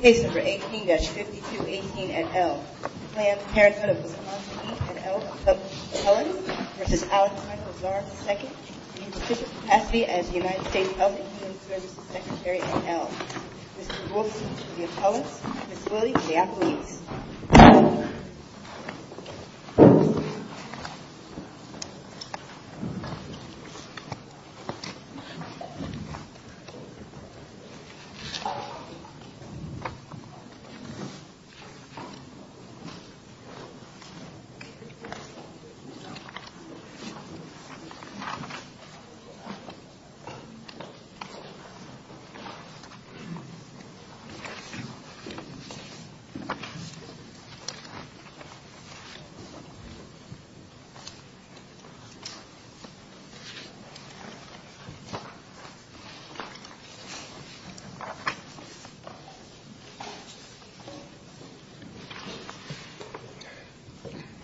Case No. 18-5218 at Elm. Planned Parenthood of Wiscons v. Alex Azar, II and his position capacity as the United States Health and Human Services Secretary at Elm. Mr. Wolfson, the appellants. Ms. Willey, the appellees. Mr. Wolfson, the appellants.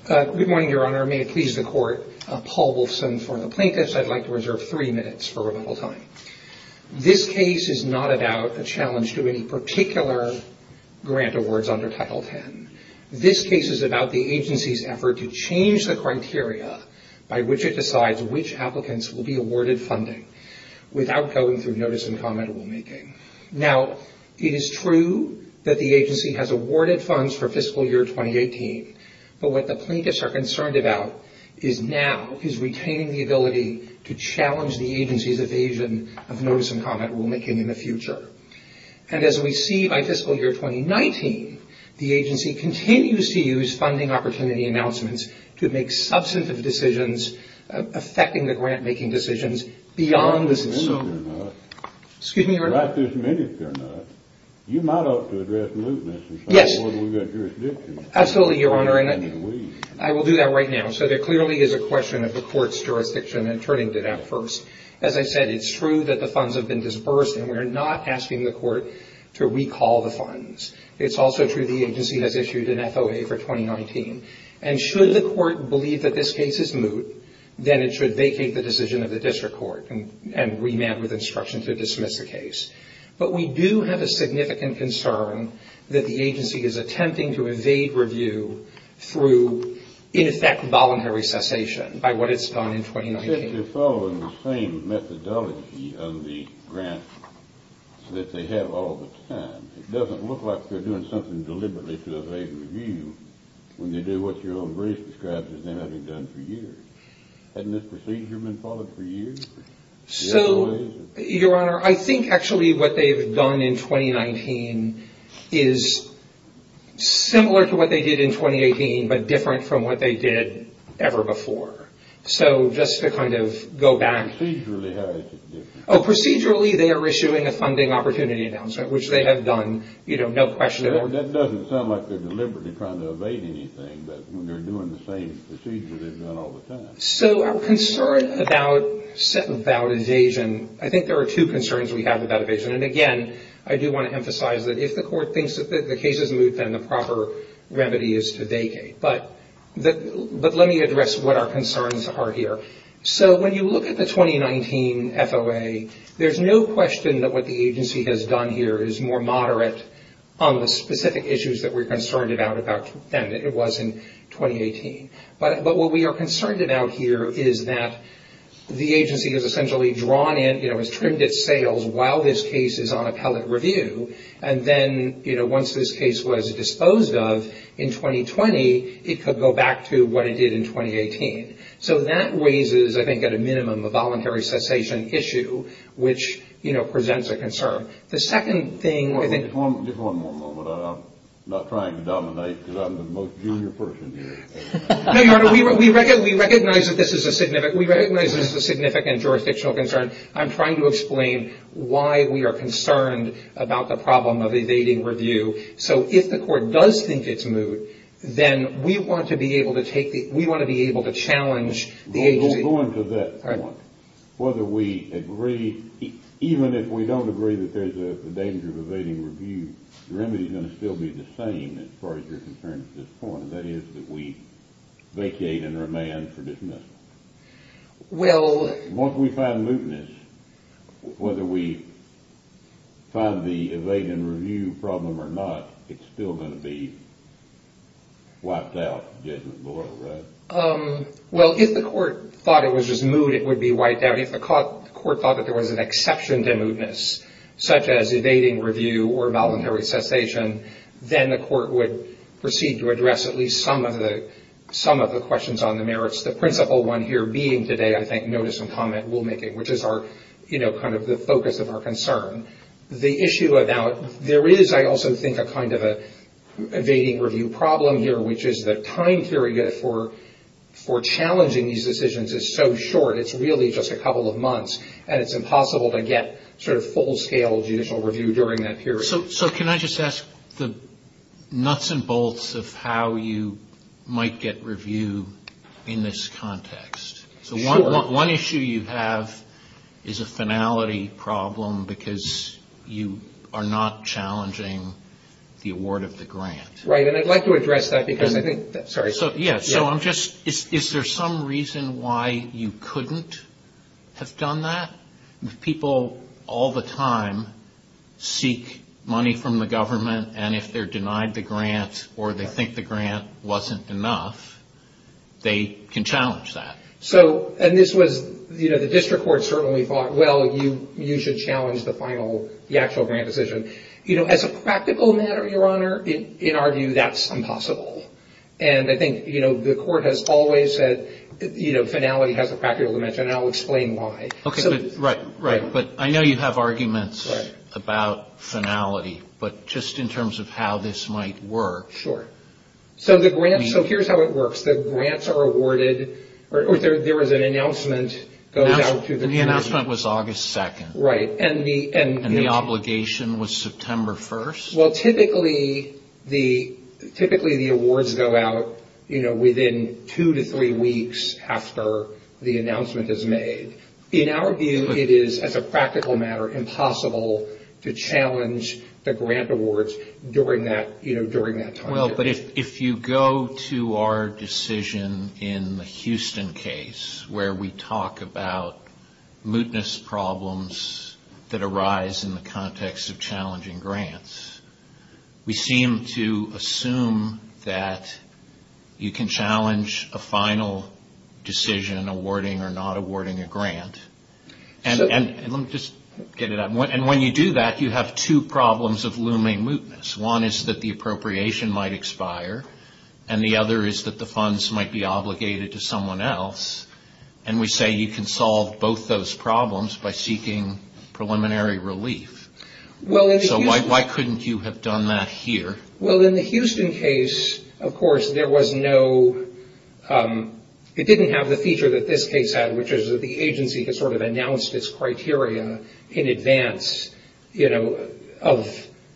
Good morning, Your Honor. May it please the Court. Paul Wolfson for the plaintiffs. I'd like to reserve three minutes for rebuttal time. This case is not about a challenge to any particular grant awards under Title X. This case is about the agency's effort to change the criteria by which it decides which applicants will be awarded funding without going through notice-and-comment rulemaking. Now, it is true that the agency has awarded funds for fiscal year 2018, but what the plaintiffs are concerned about is now is retaining the ability to challenge the agency's evasion of notice-and-comment rulemaking in the future. And as we see by fiscal year 2019, the agency continues to use funding opportunity announcements to make substantive decisions affecting the grant-making decisions beyond the system. Excuse me, Your Honor. Right this minute, they're not. You might ought to address mootness. Yes. We've got jurisdiction. Absolutely, Your Honor, and I will do that right now. So there clearly is a question of the Court's jurisdiction and turning it out first. As I said, it's true that the funds have been disbursed, and we're not asking the Court to recall the funds. It's also true the agency has issued an FOA for 2019. And should the Court believe that this case is moot, then it should vacate the decision of the district court and remand with instruction to dismiss the case. But we do have a significant concern that the agency is attempting to evade review through, in effect, voluntary cessation by what it's done in 2019. Since they're following the same methodology on the grant that they have all the time, it doesn't look like they're doing something deliberately to evade review when they do what your own brief describes as them having done for years. Hadn't this procedure been followed for years? So, Your Honor, I think actually what they've done in 2019 is similar to what they did in 2018, but different from what they did ever before. So just to kind of go back. Procedurally, how is it different? That doesn't sound like they're deliberately trying to evade anything, but when they're doing the same procedure they've done all the time. So our concern about evasion, I think there are two concerns we have about evasion. And again, I do want to emphasize that if the Court thinks that the case is moot, then the proper remedy is to vacate. But let me address what our concerns are here. So when you look at the 2019 FOA, there's no question that what the agency has done here is more moderate on the specific issues that we're concerned about than it was in 2018. But what we are concerned about here is that the agency has essentially drawn in, has trimmed its sales while this case is on appellate review. And then once this case was disposed of in 2020, it could go back to what it did in 2018. So that raises, I think at a minimum, a voluntary cessation issue, which, you know, presents a concern. The second thing I think... Just one more moment. I'm not trying to dominate because I'm the most junior person here. No, Your Honor. We recognize that this is a significant jurisdictional concern. I'm trying to explain why we are concerned about the problem of evading review. So if the court does think it's moot, then we want to be able to take the... We want to be able to challenge the agency... Go on to that point. Whether we agree... Even if we don't agree that there's a danger of evading review, the remedy's going to still be the same as far as you're concerned at this point, and that is that we vacate and remain for dismissal. Well... Once we find mootness, whether we find the evading review problem or not, it's still going to be wiped out, Judgment Boyle, right? Well, if the court thought it was just moot, it would be wiped out. If the court thought that there was an exception to mootness, such as evading review or voluntary cessation, then the court would proceed to address at least some of the questions on the merits. The principal one here being today, I think, notice and comment rulemaking, which is kind of the focus of our concern. The issue about... There is, I also think, a kind of evading review problem here, which is the time period for challenging these decisions is so short. It's really just a couple of months, and it's impossible to get sort of full-scale judicial review during that period. So can I just ask the nuts and bolts of how you might get review in this context? Sure. So one issue you have is a finality problem because you are not challenging the award of the grant. Right, and I'd like to address that because I think... Sorry. Yeah, so I'm just... Is there some reason why you couldn't have done that? People all the time seek money from the government, and if they're denied the grant or they think the grant wasn't enough, they can challenge that. So, and this was, you know, the district court certainly thought, well, you should challenge the final, the actual grant decision. You know, as a practical matter, Your Honor, in our view, that's impossible. And I think, you know, the court has always said, you know, finality has a practical dimension, and I'll explain why. Okay, right, right. But I know you have arguments about finality, but just in terms of how this might work. Sure. So the grant, so here's how it works. The grants are awarded, or there is an announcement goes out to the committee. The announcement was August 2nd. Right, and the... And the obligation was September 1st. Well, typically the awards go out, you know, within two to three weeks after the announcement is made. In our view, it is, as a practical matter, impossible to challenge the grant awards during that, you know, during that time. Well, but if you go to our decision in the Houston case, where we talk about mootness problems that arise in the context of challenging grants, we seem to assume that you can challenge a final decision awarding or not awarding a grant. And let me just get it out. And when you do that, you have two problems of looming mootness. One is that the appropriation might expire, and the other is that the funds might be obligated to someone else. And we say you can solve both those problems by seeking preliminary relief. So why couldn't you have done that here? Well, in the Houston case, of course, there was no... It didn't have the feature that this case had, which is that the agency had sort of announced its criteria in advance, you know, of...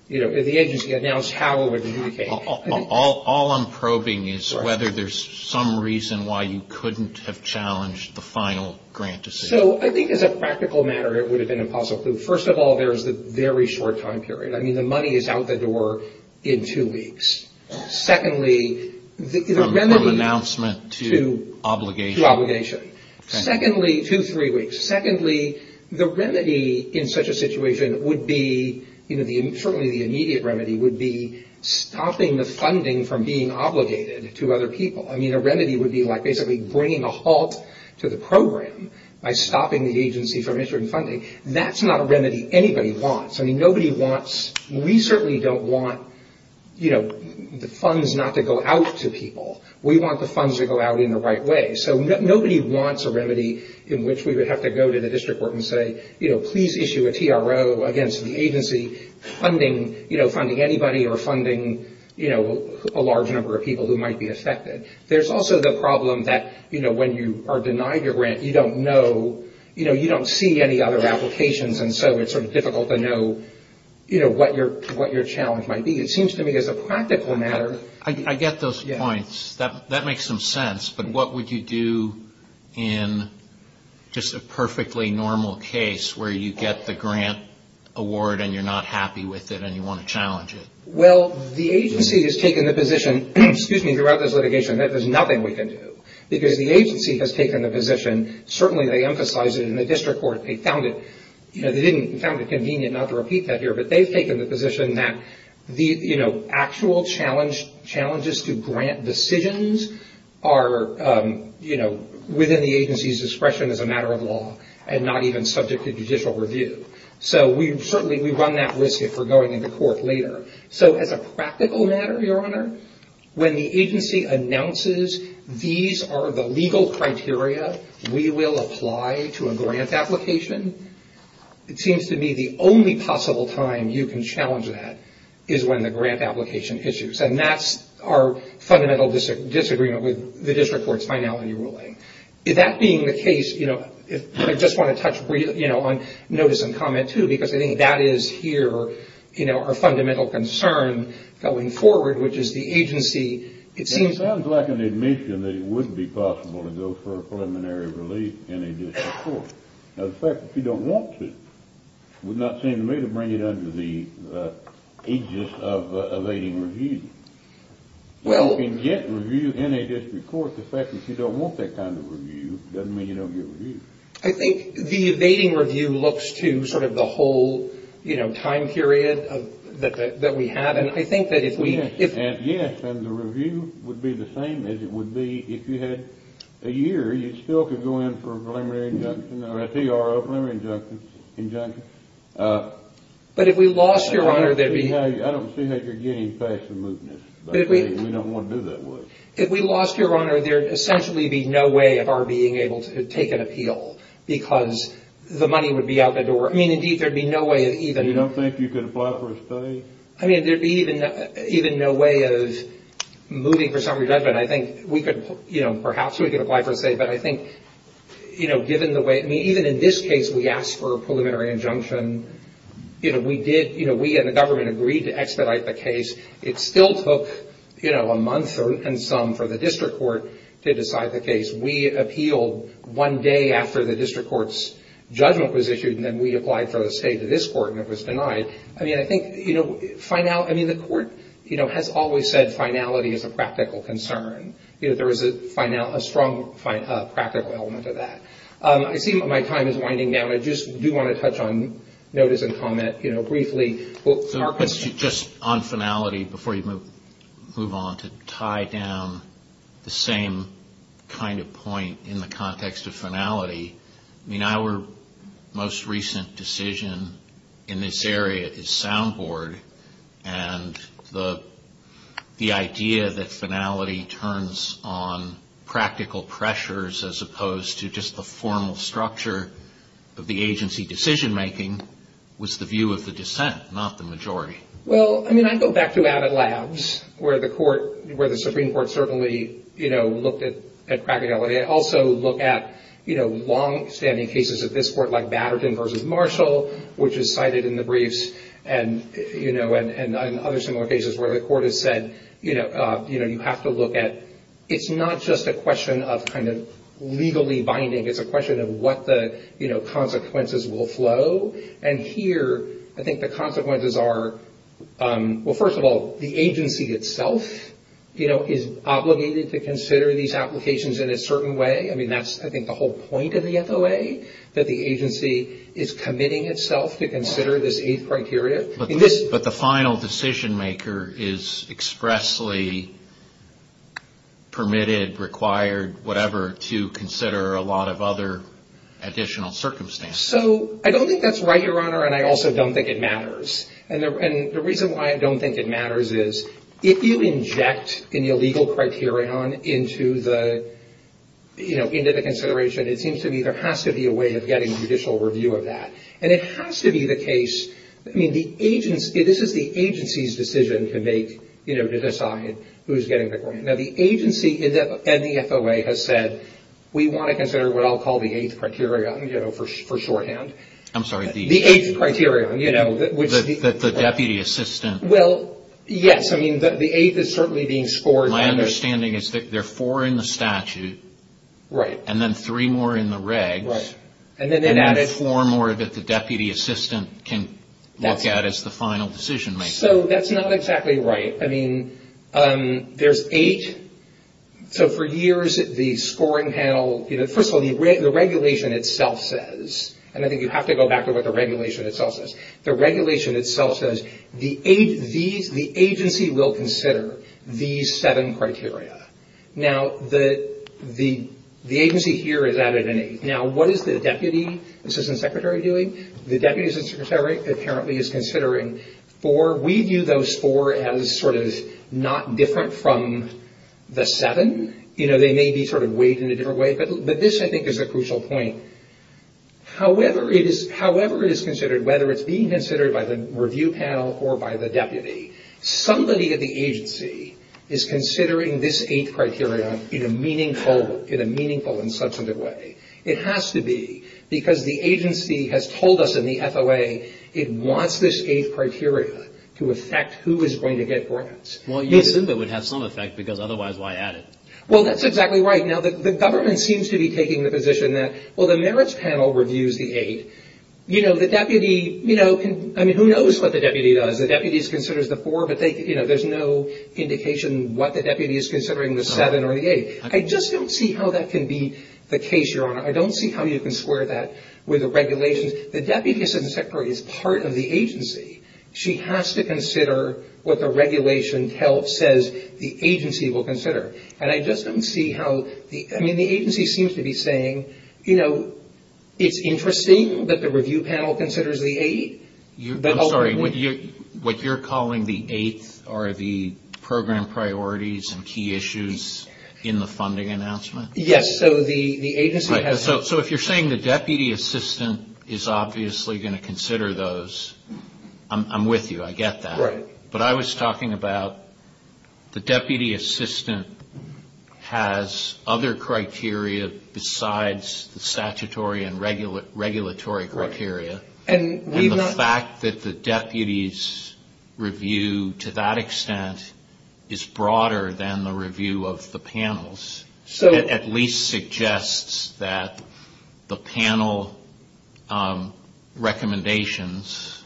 You know, the agency announced how it would... All I'm probing is whether there's some reason why you couldn't have challenged the final grant decision. So I think, as a practical matter, it would have been impossible. First of all, there's the very short time period. I mean, the money is out the door in two weeks. Secondly, the remedy... From announcement to obligation. To obligation. Okay. Secondly, two, three weeks. Secondly, the remedy in such a situation would be... You know, certainly the immediate remedy would be stopping the funding from being obligated to other people. I mean, a remedy would be like basically bringing a halt to the program by stopping the agency from issuing funding. That's not a remedy anybody wants. I mean, nobody wants... We certainly don't want, you know, the funds not to go out to people. We want the funds to go out in the right way. So nobody wants a remedy in which we would have to go to the district court and say, you know, please issue a TRO against the agency funding, you know, funding anybody or funding, you know, a large number of people who might be affected. There's also the problem that, you know, when you are denied your grant, you don't know, you know, you don't see any other applications and so it's sort of difficult to know, you know, what your challenge might be. It seems to me as a practical matter... I get those points. That makes some sense. But what would you do in just a perfectly normal case where you get the grant award and you're not happy with it and you want to challenge it? Well, the agency has taken the position, excuse me, throughout this litigation that there's nothing we can do. Because the agency has taken the position, certainly they emphasize it in the district court. They found it, you know, they didn't... They found it convenient not to repeat that here, but they've taken the position that the, you know, actual challenges to grant decisions are, you know, within the agency's discretion as a matter of law and not even subject to judicial review. So we certainly... We run that risk if we're going into court later. So as a practical matter, Your Honor, when the agency announces these are the legal criteria we will apply to a grant application, it seems to me the only possible time you can challenge that is when the grant application issues and that's our fundamental disagreement with the district court's finality ruling. That being the case, you know, I just want to touch, you know, on notice and comment, too, because I think that is here, you know, our fundamental concern going forward, which is the agency, it seems... It sounds like an admission that it would be possible to go for a preliminary relief in a district court. Now, the fact that you don't want to would not seem to me to bring it under the aegis of evading review. You can get review in a district court. The fact that you don't want that kind of review doesn't mean you don't get review. I think the evading review looks to sort of the whole, you know, time period that we have and I think that if we... Yes, and the review would be the same as it would be if you had a year. You still could go in for a preliminary injunction or a PRO, preliminary injunction. But if we lost, Your Honor, there'd be... I don't see that you're getting past the mootness. We don't want to do that. If we lost, Your Honor, there'd essentially be no way of our being able to take an appeal because the money would be out the door. I mean, indeed, there'd be no way of even... You don't think you could apply for a stay? I mean, there'd be even no way of moving for summary judgment. I think we could, you know, perhaps we could apply for a stay, but I think, you know, given the way... I mean, even in this case, we asked for a preliminary injunction. You know, we did... You know, we and the government agreed to expedite the case. It still took, you know, a month and some for the district court to decide the case. We appealed one day after the district court's judgment was issued and then we applied for a stay to this court and it was denied. I mean, I think, you know, final... I mean, the court, you know, has always said finality is a practical concern. You know, there is a strong practical element to that. I see my time is winding down. I just do want to touch on notice and comment, you know, briefly. Our question... Just on finality, before you move on, to tie down the same kind of point in the context of finality. I mean, our most recent decision in this area is soundboard and the idea that finality turns on practical pressures as opposed to just the formal structure of the agency decision-making was the view of the dissent, not the majority. Well, I mean, I go back to Abbott Labs where the Supreme Court certainly, you know, looked at practicality. I also look at, you know, long-standing cases of this court like Batterton v. Marshall, which is cited in the briefs, and, you know, and other similar cases where the court has said, you know, you have to look at... It's not just a question of kind of legally binding. It's a question of what the, you know, consequences will flow. And here, I think the consequences are... Well, first of all, the agency itself, you know, is obligated to consider these applications in a certain way. I mean, that's, I think, the whole point of the FOA, that the agency is committing itself to consider this eighth criteria. But the final decision-maker is expressly permitted, required, whatever, to consider a lot of other additional circumstances. So I don't think that's right, Your Honor, and I also don't think it matters. And the reason why I don't think it matters is if you inject an illegal criterion into the, you know, into the consideration, it seems to me there has to be a way of getting judicial review of that. And it has to be the case... I mean, the agency... This is the agency's decision to make, you know, to decide who's getting the court. Now, the agency and the FOA has said, we want to consider what I'll call the eighth criterion, you know, for shorthand. I'm sorry. The eighth criterion, you know, which... That the deputy assistant... Well, yes, I mean, the eighth is certainly being scored... My understanding is that there are four in the statute... Right. And then three more in the regs... Right. And then four more that the deputy assistant can look at as the final decision-maker. So, that's not exactly right. I mean, there's eight. So, for years, the scoring panel... You know, first of all, the regulation itself says... And I think you have to go back to what the regulation itself says. The regulation itself says the agency will consider these seven criteria. Now, the agency here has added an eighth. Now, what is the deputy assistant secretary doing? The deputy assistant secretary apparently is considering four. We view those four as sort of not different from the seven. You know, they may be sort of weighed in a different way. But this, I think, is a crucial point. However it is considered, whether it's being considered by the review panel or by the deputy, somebody at the agency is considering this eighth criterion in a meaningful and substantive way. It has to be because the agency has told us in the FOA it wants this eighth criteria to affect who is going to get grants. Well, you assume it would have some effect because otherwise, why add it? Well, that's exactly right. Now, the government seems to be taking the position that, well, the merits panel reviews the eighth. You know, the deputy, you know, I mean, who knows what the deputy does. The deputy considers the four, but, you know, there's no indication what the deputy is considering, the seven or the eight. I just don't see how that can be the case, Your Honor. I don't see how you can square that with the regulations. The deputy assistant secretary is part of the agency. She has to consider what the regulation says the agency will consider. And I just don't see how the agency seems to be saying, you know, it's interesting that the review panel considers the eight. I'm sorry. What you're calling the eighth are the program priorities and key issues in the funding announcement? Yes. So the agency has... So if you're saying the deputy assistant is obviously going to consider those, I'm with you. I get that. Right. But I was talking about the deputy assistant has other criteria besides the statutory and regulatory criteria. And the fact that the deputy's review, to that extent, is broader than the review of the panels, at least suggests that the panel recommendations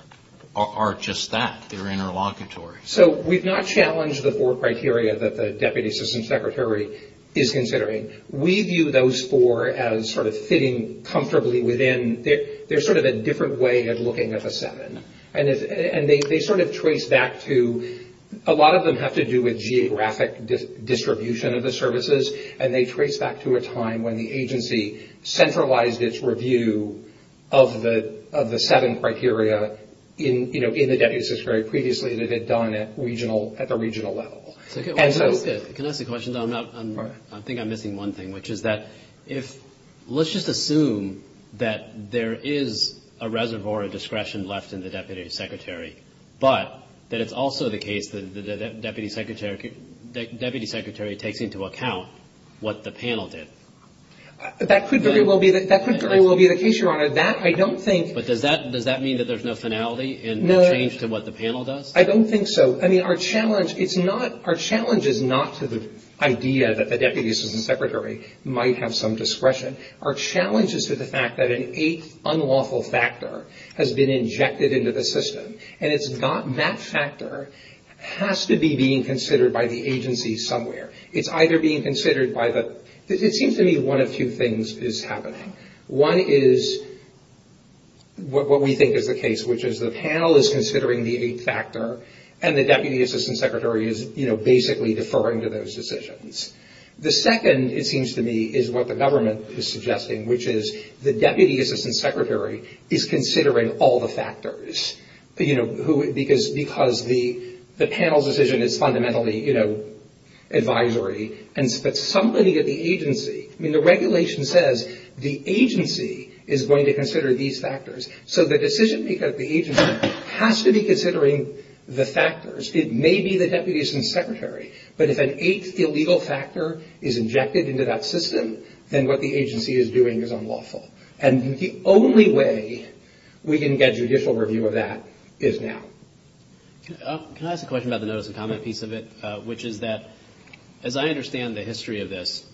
are just that. They're interlocutory. So we've not challenged the four criteria that the deputy assistant secretary is considering. We view those four as sort of fitting comfortably within. They're sort of a different way of looking at the seven. And they sort of trace back to... A lot of them have to do with geographic distribution of the services, and they trace back to a time when the agency centralized its review of the seven criteria in the deputy assistant secretary previously that it had done at the regional level. Can I ask a question? I think I'm missing one thing, which is that if let's just assume that there is a reservoir of discretion left in the deputy secretary, but that it's also the case that the deputy secretary takes into account what the panel did. That could very well be the case, Your Honor. That I don't think... But does that mean that there's no finality in the change to what the panel does? I don't think so. Our challenge is not to the idea that the deputy assistant secretary might have some discretion. Our challenge is to the fact that an eighth unlawful factor has been injected into the system, and that factor has to be being considered by the agency somewhere. It's either being considered by the... It seems to me one of two things is happening. One is what we think is the case, which is the panel is considering the eighth factor, and the deputy assistant secretary is basically deferring to those decisions. The second, it seems to me, is what the government is suggesting, which is the deputy assistant secretary is considering all the factors. Because the panel's decision is fundamentally advisory, but somebody at the agency... The regulation says the agency is going to consider these factors. So the decision maker at the agency has to be considering the factors. It may be the deputy assistant secretary, but if an eighth illegal factor is injected into that system, then what the agency is doing is unlawful. And the only way we can get judicial review of that is now. Can I ask a question about the notice of comment piece of it, which is that as I understand the history of this,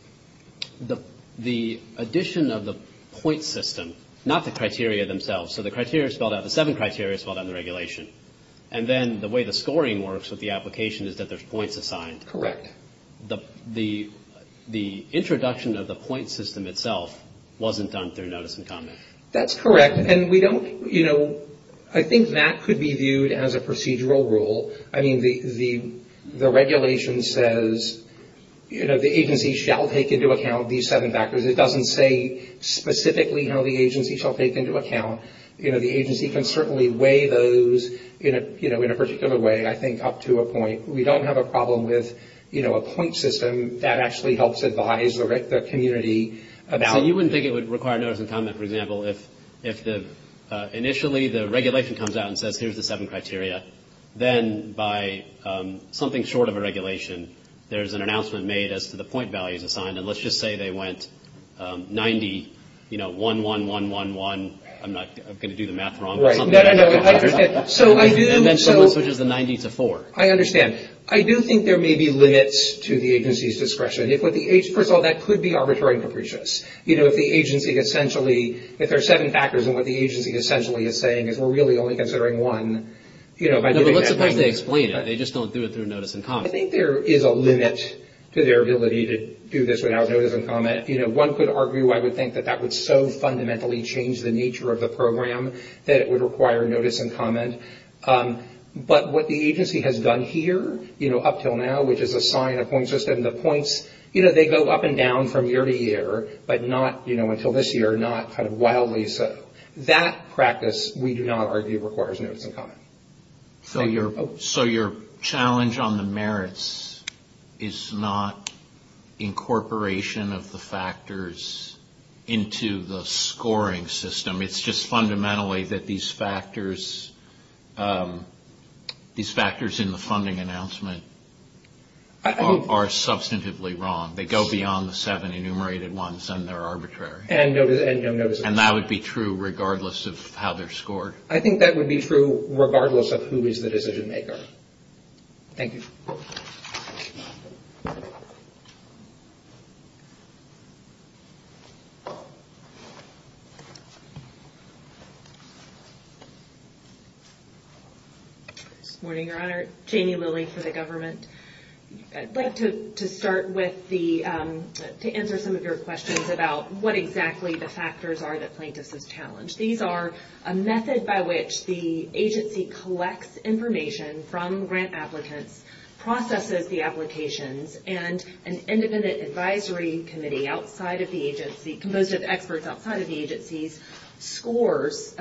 the addition of the point system, not the criteria themselves, so the criteria spelled out, the seven criteria spelled out in the regulation, and then the way the scoring works with the application is that there's points assigned. Correct. The introduction of the point system itself wasn't done through notice of comment. That's correct, and we don't... I think that could be viewed as a procedural rule. I mean, the regulation says the agency shall take into account these seven factors. It doesn't say specifically how the agency shall take into account. The agency can certainly weigh those in a particular way, I think, up to a point. We don't have a problem with a point system that actually helps advise the community about... So you wouldn't think it would require notice of comment, for example, if initially the regulation comes out and says here's the seven criteria, then by something short of a regulation, there's an announcement made as to the point values assigned, and let's just say they went 90, you know, 1, 1, 1, 1, 1. I'm not going to do the math wrong. Right. No, no, no. And then someone switches the 90 to 4. I understand. I do think there may be limits to the agency's discretion. First of all, that could be arbitrary and capricious. You know, if the agency essentially, if there are seven factors and what the agency essentially is saying is we're really only considering one, No, but let's suppose they explain it. They just don't do it through notice and comment. I think there is a limit to their ability to do this without notice and comment. You know, one could argue I would think that that would so fundamentally change the nature of the program that it would require notice and comment. But what the agency has done here, you know, up until now, which is assign a point system, the points, you know, they go up and down from year to year, but not, you know, until this year, not kind of wildly so. That practice, we do not argue, requires notice and comment. So your challenge on the merits is not incorporation of the factors into the scoring system. It's just fundamentally that these factors in the funding announcement are substantively wrong. They go beyond the seven enumerated ones and they're arbitrary. And no notice and comment. And that would be true regardless of how they're scored. I think that would be true regardless of who is the decision maker. Thank you. Good morning, Your Honor. Jamie Lilly for the government. I'd like to start with the, to answer some of your questions about what exactly the factors are that plaintiffs have challenged. These are a method by which the agency collects information from grant applicants, processes the applications, and an independent advisory committee outside of the agency, composed of experts outside of the agencies, scores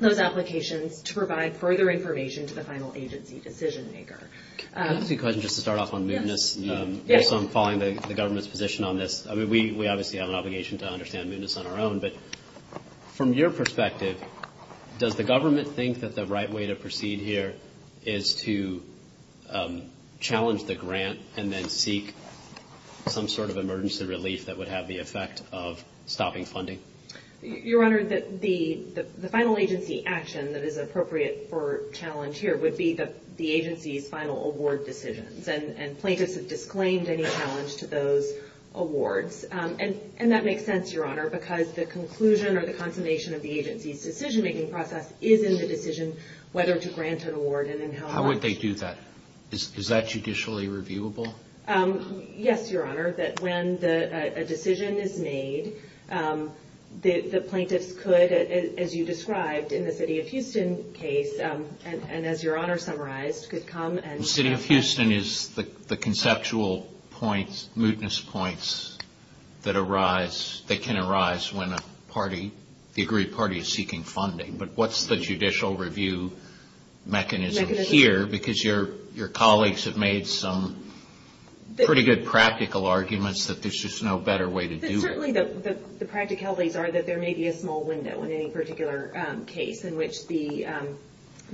those applications to provide further information to the final agency decision maker. I have a few questions just to start off on mootness. Yes. I'm following the government's position on this. I mean, we obviously have an obligation to understand mootness on our own. But from your perspective, does the government think that the right way to proceed here is to challenge the grant and then seek some sort of emergency relief that would have the effect of stopping funding? Your Honor, the final agency action that is appropriate for challenge here would be the agency's final award decisions. And plaintiffs have disclaimed any challenge to those awards. And that makes sense, Your Honor, because the conclusion or the consummation of the agency's decision-making process is in the decision whether to grant an award and in how much. How would they do that? Is that judicially reviewable? Yes, Your Honor. That when a decision is made, the plaintiffs could, as you described in the city of Houston case, and as Your Honor summarized, could come and... The city of Houston is the conceptual point, mootness points that arise, that can arise when a party, the agreed party, is seeking funding. But what's the judicial review mechanism here? Because your colleagues have made some pretty good practical arguments that there's just no better way to do it. Certainly the practicalities are that there may be a small window in any particular case in which the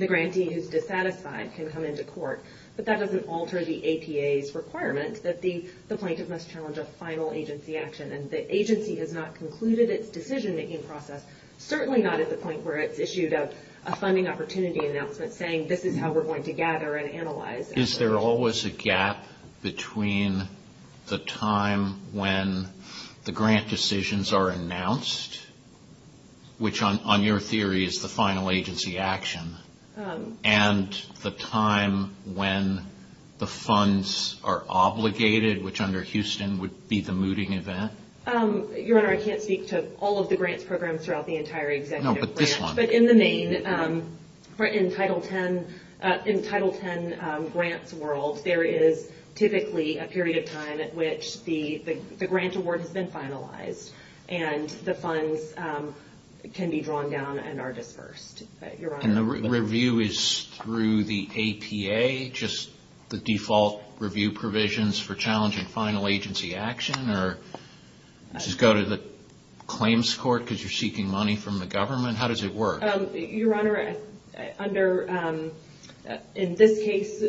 grantee who's dissatisfied can come into court. But that doesn't alter the APA's requirement that the plaintiff must challenge a final agency action. And the agency has not concluded its decision-making process, certainly not at the point where it's issued a funding opportunity announcement saying, this is how we're going to gather and analyze. Is there always a gap between the time when the grant decisions are announced, which on your theory is the final agency action, and the time when the funds are obligated, which under Houston would be the mooting event? Your Honor, I can't speak to all of the grants programs throughout the entire executive branch. No, but this one. But in the main, in Title X grants world, there is typically a period of time at which the grant award has been finalized and the funds can be drawn down and are dispersed. And the review is through the APA, just the default review provisions for challenging final agency action? Or does it go to the claims court because you're seeking money from the government? How does it work? Your Honor, in this case,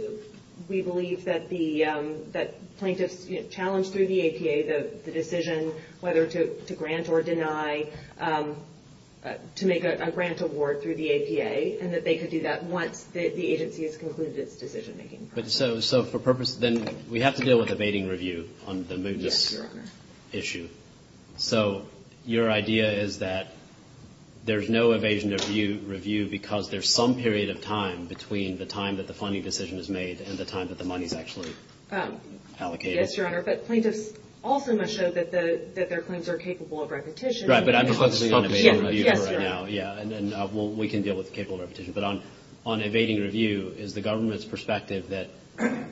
we believe that the plaintiffs challenge through the APA the decision whether to grant or deny, to make a grant award through the APA, and that they could do that once the agency has concluded its decision-making process. So for purpose, then we have to deal with evading review on the mootness issue. So your idea is that there's no evasion review because there's some period of time between the time that the funding decision is made and the time that the money is actually allocated? Yes, Your Honor. But plaintiffs also must show that their claims are capable of repetition. Right, but I'm discussing evading review right now. Yes, Your Honor. Yeah, and we can deal with capable repetition. But on evading review, is the government's perspective that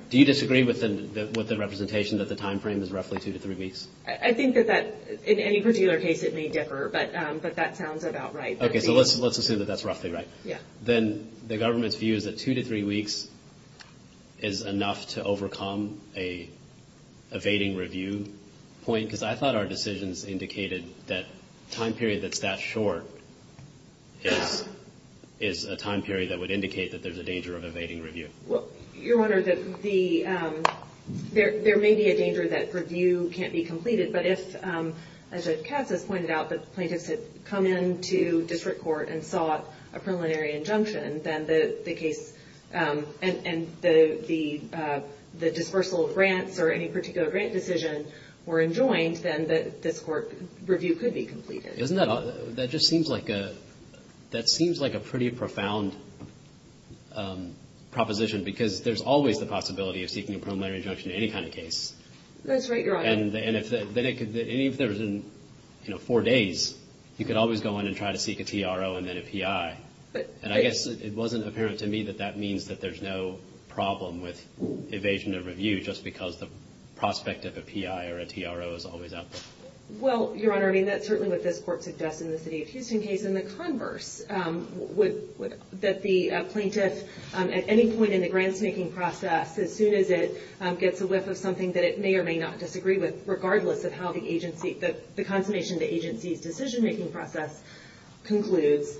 do you disagree with the representation that the time frame is roughly two to three weeks? I think that in any particular case it may differ, but that sounds about right. Okay, so let's assume that that's roughly right. Yeah. Then the government's view is that two to three weeks is enough to overcome an evading review point? Because I thought our decisions indicated that time period that's that short is a time period that would indicate that there's a danger of evading review. Well, Your Honor, there may be a danger that review can't be completed, but if, as Judge Katz has pointed out, the plaintiffs had come into district court and sought a preliminary injunction and the dispersal of grants or any particular grant decision were enjoined, then this court review could be completed. Isn't that odd? That just seems like a pretty profound proposition because there's always the possibility of seeking a preliminary injunction in any kind of case. That's right, Your Honor. And even if there was four days, you could always go in and try to seek a TRO and then a PI. And I guess it wasn't apparent to me that that means that there's no problem with evasion of review just because the prospect of a PI or a TRO is always out there. Well, Your Honor, I mean, that's certainly what this court suggests in the City of Houston case. In the converse, that the plaintiff at any point in the grants-making process, as soon as it gets a whiff of something that it may or may not disagree with, regardless of how the consummation of the agency's decision-making process concludes,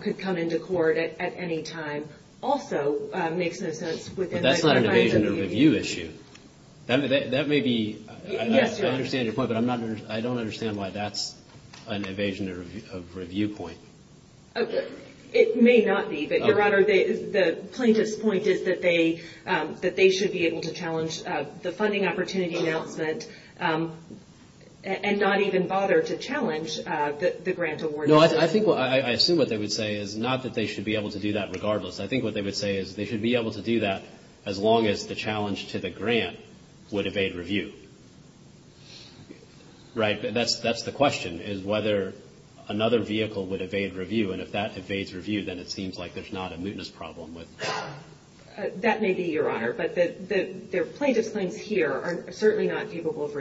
could come into court at any time, also makes no sense within the confines of review. But that's not an evasion of review issue. That may be – I understand your point, but I don't understand why that's an evasion of review point. It may not be. But, Your Honor, the plaintiff's point is that they should be able to challenge the funding opportunity announcement and not even bother to challenge the grant award. No, I think – I assume what they would say is not that they should be able to do that regardless. I think what they would say is they should be able to do that as long as the challenge to the grant would evade review. Right. That's the question, is whether another vehicle would evade review. And if that evades review, then it seems like there's not a mootness problem. That may be, Your Honor. But the plaintiff's claims here are certainly not capable of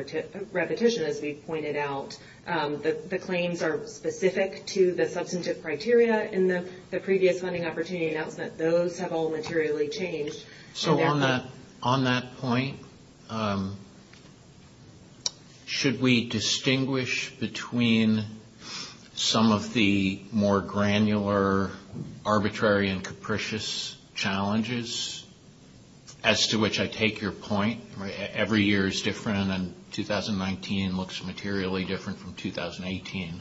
repetition, as we've pointed out. The claims are specific to the substantive criteria in the previous funding opportunity announcement. Those have all materially changed. So on that point, should we distinguish between some of the more granular, arbitrary, and capricious challenges? As to which I take your point, every year is different, and 2019 looks materially different from 2018.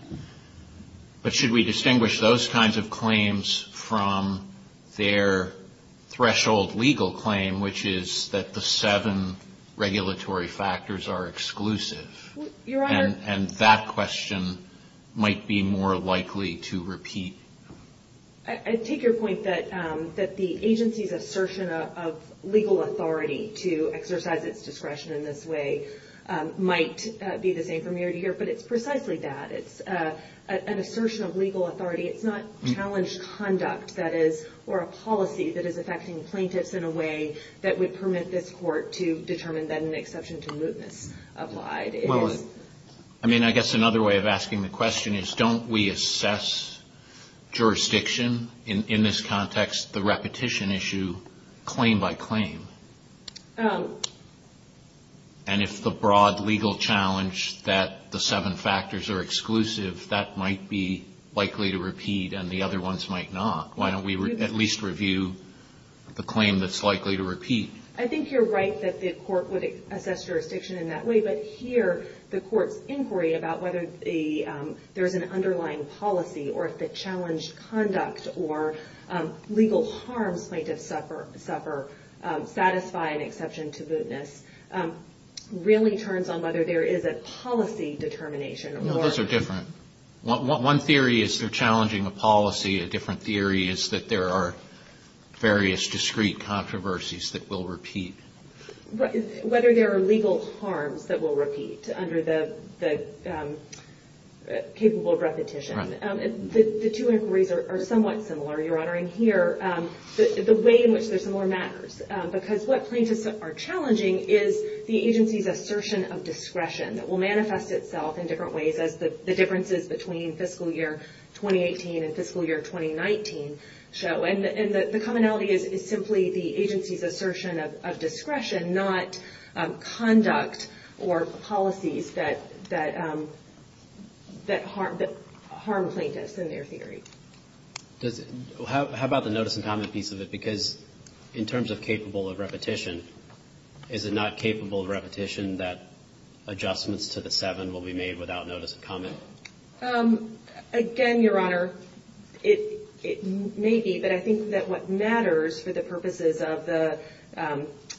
But should we distinguish those kinds of claims from their threshold legal claim, which is that the seven regulatory factors are exclusive? Your Honor – And that question might be more likely to repeat. I take your point that the agency's assertion of legal authority to exercise its discretion in this way might be the same from year to year, but it's precisely that. It's an assertion of legal authority. It's not challenged conduct, that is, or a policy that is affecting plaintiffs in a way that would permit this court to determine that an exception to mootness applied. I mean, I guess another way of asking the question is, don't we assess jurisdiction in this context, the repetition issue, claim by claim? And if the broad legal challenge that the seven factors are exclusive, that might be likely to repeat and the other ones might not. Why don't we at least review the claim that's likely to repeat? I think you're right that the court would assess jurisdiction in that way, but here the court's inquiry about whether there's an underlying policy or if the challenged conduct or legal harms plaintiffs suffer, satisfy an exception to mootness, really turns on whether there is a policy determination. No, those are different. One theory is they're challenging a policy. A different theory is that there are various discrete controversies that will repeat. Whether there are legal harms that will repeat under the capable repetition, the two inquiries are somewhat similar, Your Honor. And here, the way in which they're similar matters because what plaintiffs are challenging is the agency's assertion of discretion that will manifest itself in different ways as the differences between fiscal year 2018 and fiscal year 2019 show. And the commonality is simply the agency's assertion of discretion, not conduct or policies that harm plaintiffs in their theory. How about the notice and comment piece of it? Because in terms of capable of repetition, is it not capable of repetition that adjustments to the seven will be made without notice and comment? Again, Your Honor, it may be. But I think that what matters for the purposes of the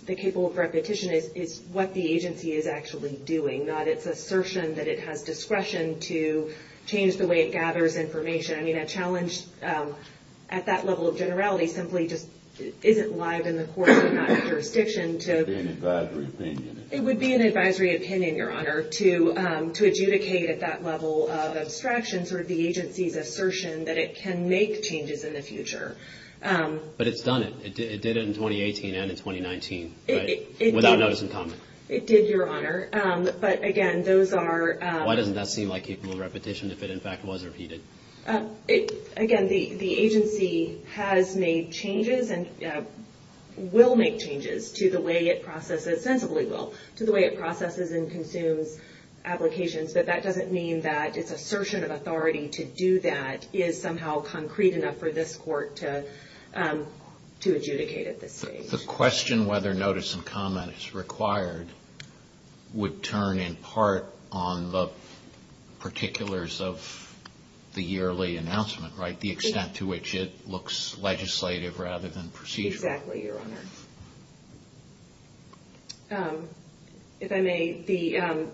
capable of repetition is what the agency is actually doing, not its assertion that it has discretion to change the way it gathers information. I mean, a challenge at that level of generality simply just isn't live in the court, not in the jurisdiction. It would be an advisory opinion. Your Honor, to adjudicate at that level of abstraction sort of the agency's assertion that it can make changes in the future. But it's done it. It did it in 2018 and in 2019 without notice and comment. It did, Your Honor. But again, those are. Why doesn't that seem like capable of repetition if it, in fact, was repeated? Again, the agency has made changes and will make changes to the way it processes, sensibly will, to the way it processes and consumes applications. But that doesn't mean that its assertion of authority to do that is somehow concrete enough for this court to adjudicate at this stage. The question whether notice and comment is required would turn in part on the particulars of the yearly announcement, right? The extent to which it looks legislative rather than procedural. Exactly, Your Honor. If I may,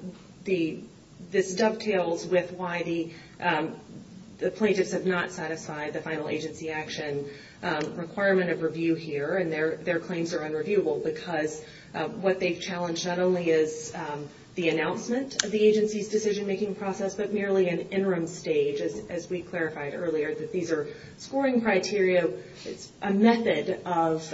this dovetails with why the plaintiffs have not satisfied the final agency action requirement of review here. And their claims are unreviewable because what they've challenged not only is the announcement of the agency's decision-making process, but merely an interim stage, as we clarified earlier, that these are scoring criteria. It's a method of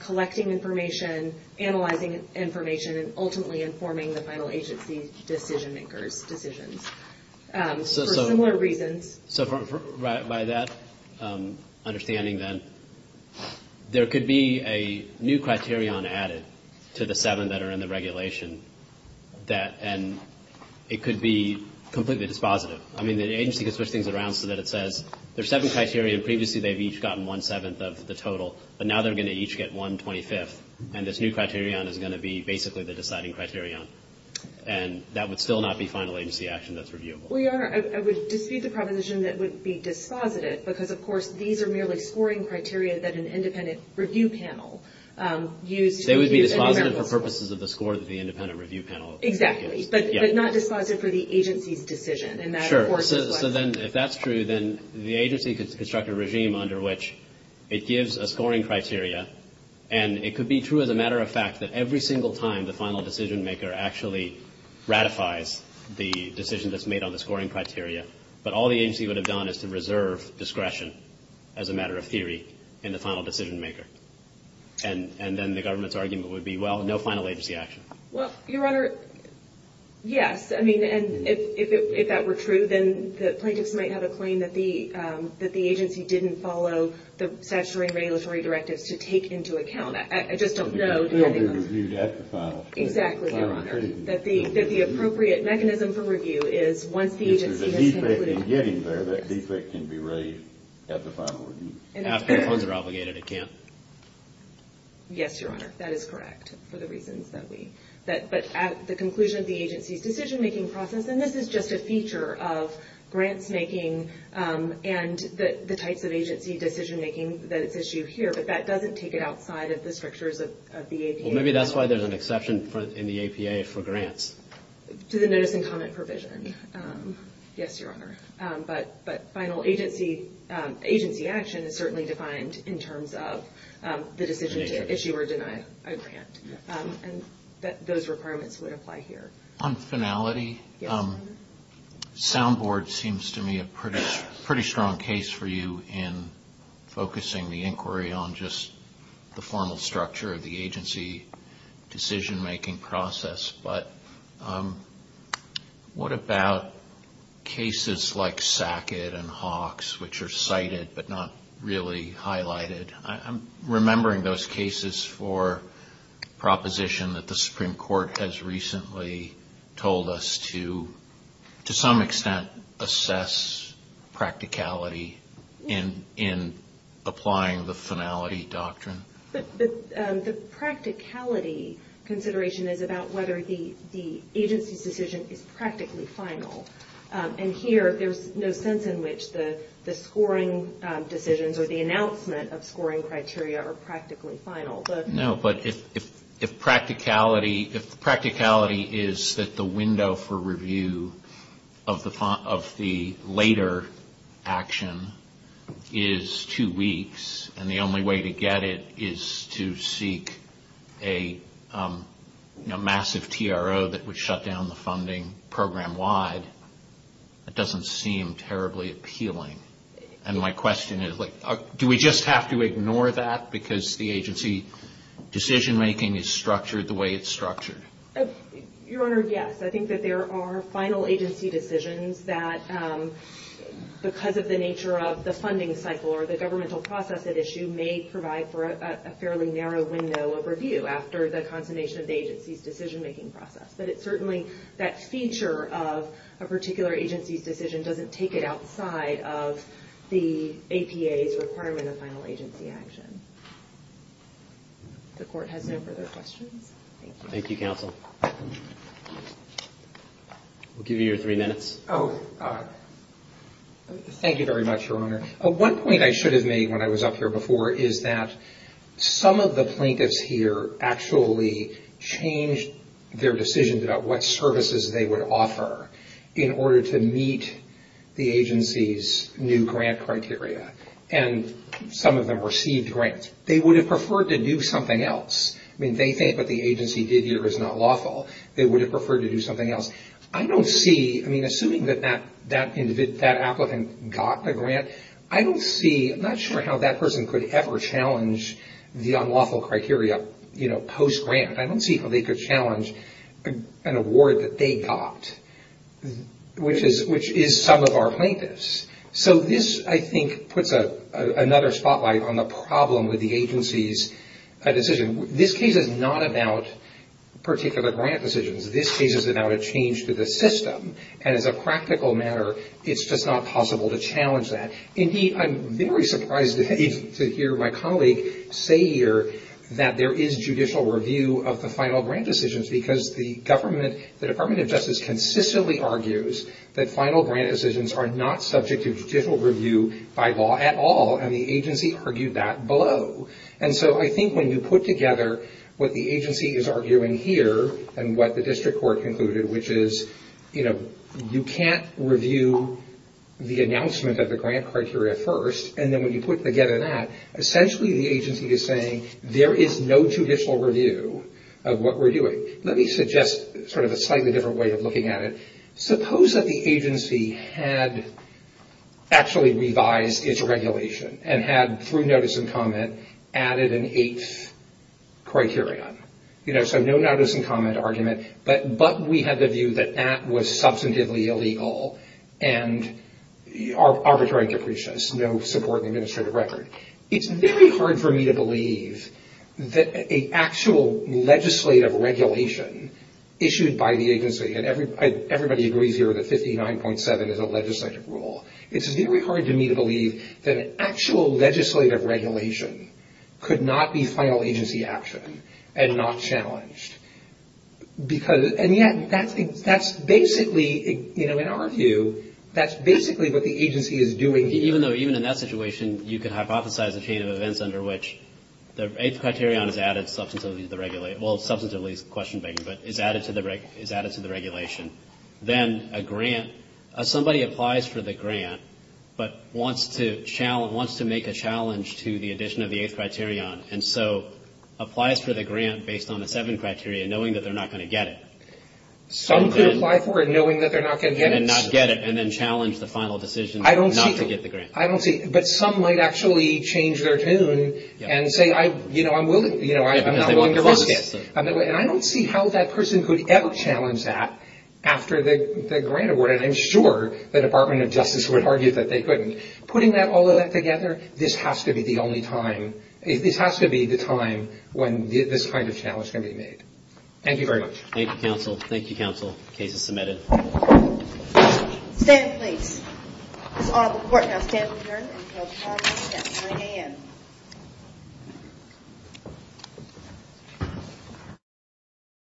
collecting information, analyzing information, and ultimately informing the final agency decision-makers' decisions. For similar reasons. So by that understanding, then, there could be a new criterion added to the seven that are in the regulation, and it could be completely dispositive. I mean, the agency could switch things around so that it says there are seven criteria, and previously they've each gotten one-seventh of the total, but now they're going to each get one-twenty-fifth, and this new criterion is going to be basically the deciding criterion. And that would still not be final agency action that's reviewable. Your Honor, I would dispute the proposition that it would be dispositive, because, of course, these are merely scoring criteria that an independent review panel used. They would be dispositive for purposes of the score that the independent review panel used. Exactly, but not dispositive for the agency's decision. Sure. So then, if that's true, then the agency could construct a regime under which it gives a scoring criteria, and it could be true as a matter of fact that every single time the final decision maker actually ratifies the decision that's made on the scoring criteria, but all the agency would have done is to reserve discretion, as a matter of theory, in the final decision maker. And then the government's argument would be, well, no final agency action. Well, Your Honor, yes. I mean, and if that were true, then the plaintiffs might have a claim that the agency didn't follow the statutory and regulatory directives to take into account. I just don't know. It could still be reviewed at the final. Exactly, Your Honor. That the appropriate mechanism for review is once the agency has concluded. If there's a defect in getting there, that defect can be raised at the final review. After funds are obligated, it can't. Yes, Your Honor, that is correct, for the reasons that we. But at the conclusion of the agency's decision-making process, and this is just a feature of grants-making and the types of agency decision-making that is issued here, but that doesn't take it outside of the structures of the APA. Well, maybe that's why there's an exception in the APA for grants. To the notice and comment provision. Yes, Your Honor. But final agency action is certainly defined in terms of the decision to issue or deny a grant. And those requirements would apply here. On finality, Soundboard seems to me a pretty strong case for you in focusing the inquiry on just the formal structure of the agency decision-making process. But what about cases like SACID and HAWQS, which are cited but not really highlighted? I'm remembering those cases for proposition that the Supreme Court has recently told us to, to some extent, assess practicality in applying the finality doctrine. But the practicality consideration is about whether the agency's decision is practically final. And here, there's no sense in which the scoring decisions or the announcement of scoring criteria are practically final. No, but if practicality is that the window for review of the later action is two weeks, and the only way to get it is to seek a massive TRO that would shut down the funding program-wide, that doesn't seem terribly appealing. And my question is, do we just have to ignore that because the agency decision-making is structured the way it's structured? Your Honor, yes. I think that there are final agency decisions that, because of the nature of the funding cycle or the governmental process at issue, may provide for a fairly narrow window of review after the consummation of the agency's decision-making process. But it's certainly that feature of a particular agency's decision doesn't take it outside of the APA's requirement of final agency action. The Court has no further questions. Thank you. Thank you, Counsel. We'll give you your three minutes. Oh, thank you very much, Your Honor. One point I should have made when I was up here before is that some of the plaintiffs here actually changed their decisions about what services they would offer in order to meet the agency's new grant criteria. And some of them received grants. They would have preferred to do something else. I mean, they think what the agency did here is not lawful. They would have preferred to do something else. Assuming that that applicant got the grant, I'm not sure how that person could ever challenge the unlawful criteria post-grant. I don't see how they could challenge an award that they got, which is some of our plaintiffs. So this, I think, puts another spotlight on the problem with the agency's decision. This case is not about particular grant decisions. This case is about a change to the system. And as a practical matter, it's just not possible to challenge that. Indeed, I'm very surprised to hear my colleague say here that there is judicial review of the final grant decisions because the Department of Justice consistently argues that final grant decisions are not subject to judicial review by law at all. And the agency argued that below. And so I think when you put together what the agency is arguing here and what the district court concluded, which is, you know, you can't review the announcement of the grant criteria first. And then when you put together that, essentially the agency is saying there is no judicial review of what we're doing. Let me suggest sort of a slightly different way of looking at it. Suppose that the agency had actually revised its regulation and had, through notice and comment, added an eighth criterion. You know, so no notice and comment argument, but we had the view that that was substantively illegal and arbitrary capricious, no support in the administrative record. It's very hard for me to believe that an actual legislative regulation issued by the agency, and everybody agrees here that 59.7 is a legislative rule. It's very hard for me to believe that an actual legislative regulation could not be final agency action and not challenged. Because, and yet, that's basically, you know, in our view, that's basically what the agency is doing here. Even though, even in that situation, you could hypothesize a chain of events under which the eighth criterion is added substantively to the regulation, well, substantively is a question bank, but is added to the regulation. Then a grant, somebody applies for the grant, but wants to make a challenge to the addition of the eighth criterion, and so applies for the grant based on the seven criteria, knowing that they're not going to get it. Some could apply for it knowing that they're not going to get it. And not get it, and then challenge the final decision not to get the grant. I don't see, but some might actually change their tune and say, you know, I'm willing, you know, I'm not willing to risk it. And I don't see how that person could ever challenge that after the grant award, and I'm sure the Department of Justice would argue that they couldn't. Putting that, all of that together, this has to be the only time, this has to be the time when this kind of challenge can be made. Thank you very much. Thank you, counsel. Thank you, counsel. Case is submitted. Stand, please. This is all the court. Now stand adjourned until tomorrow morning at 9 a.m.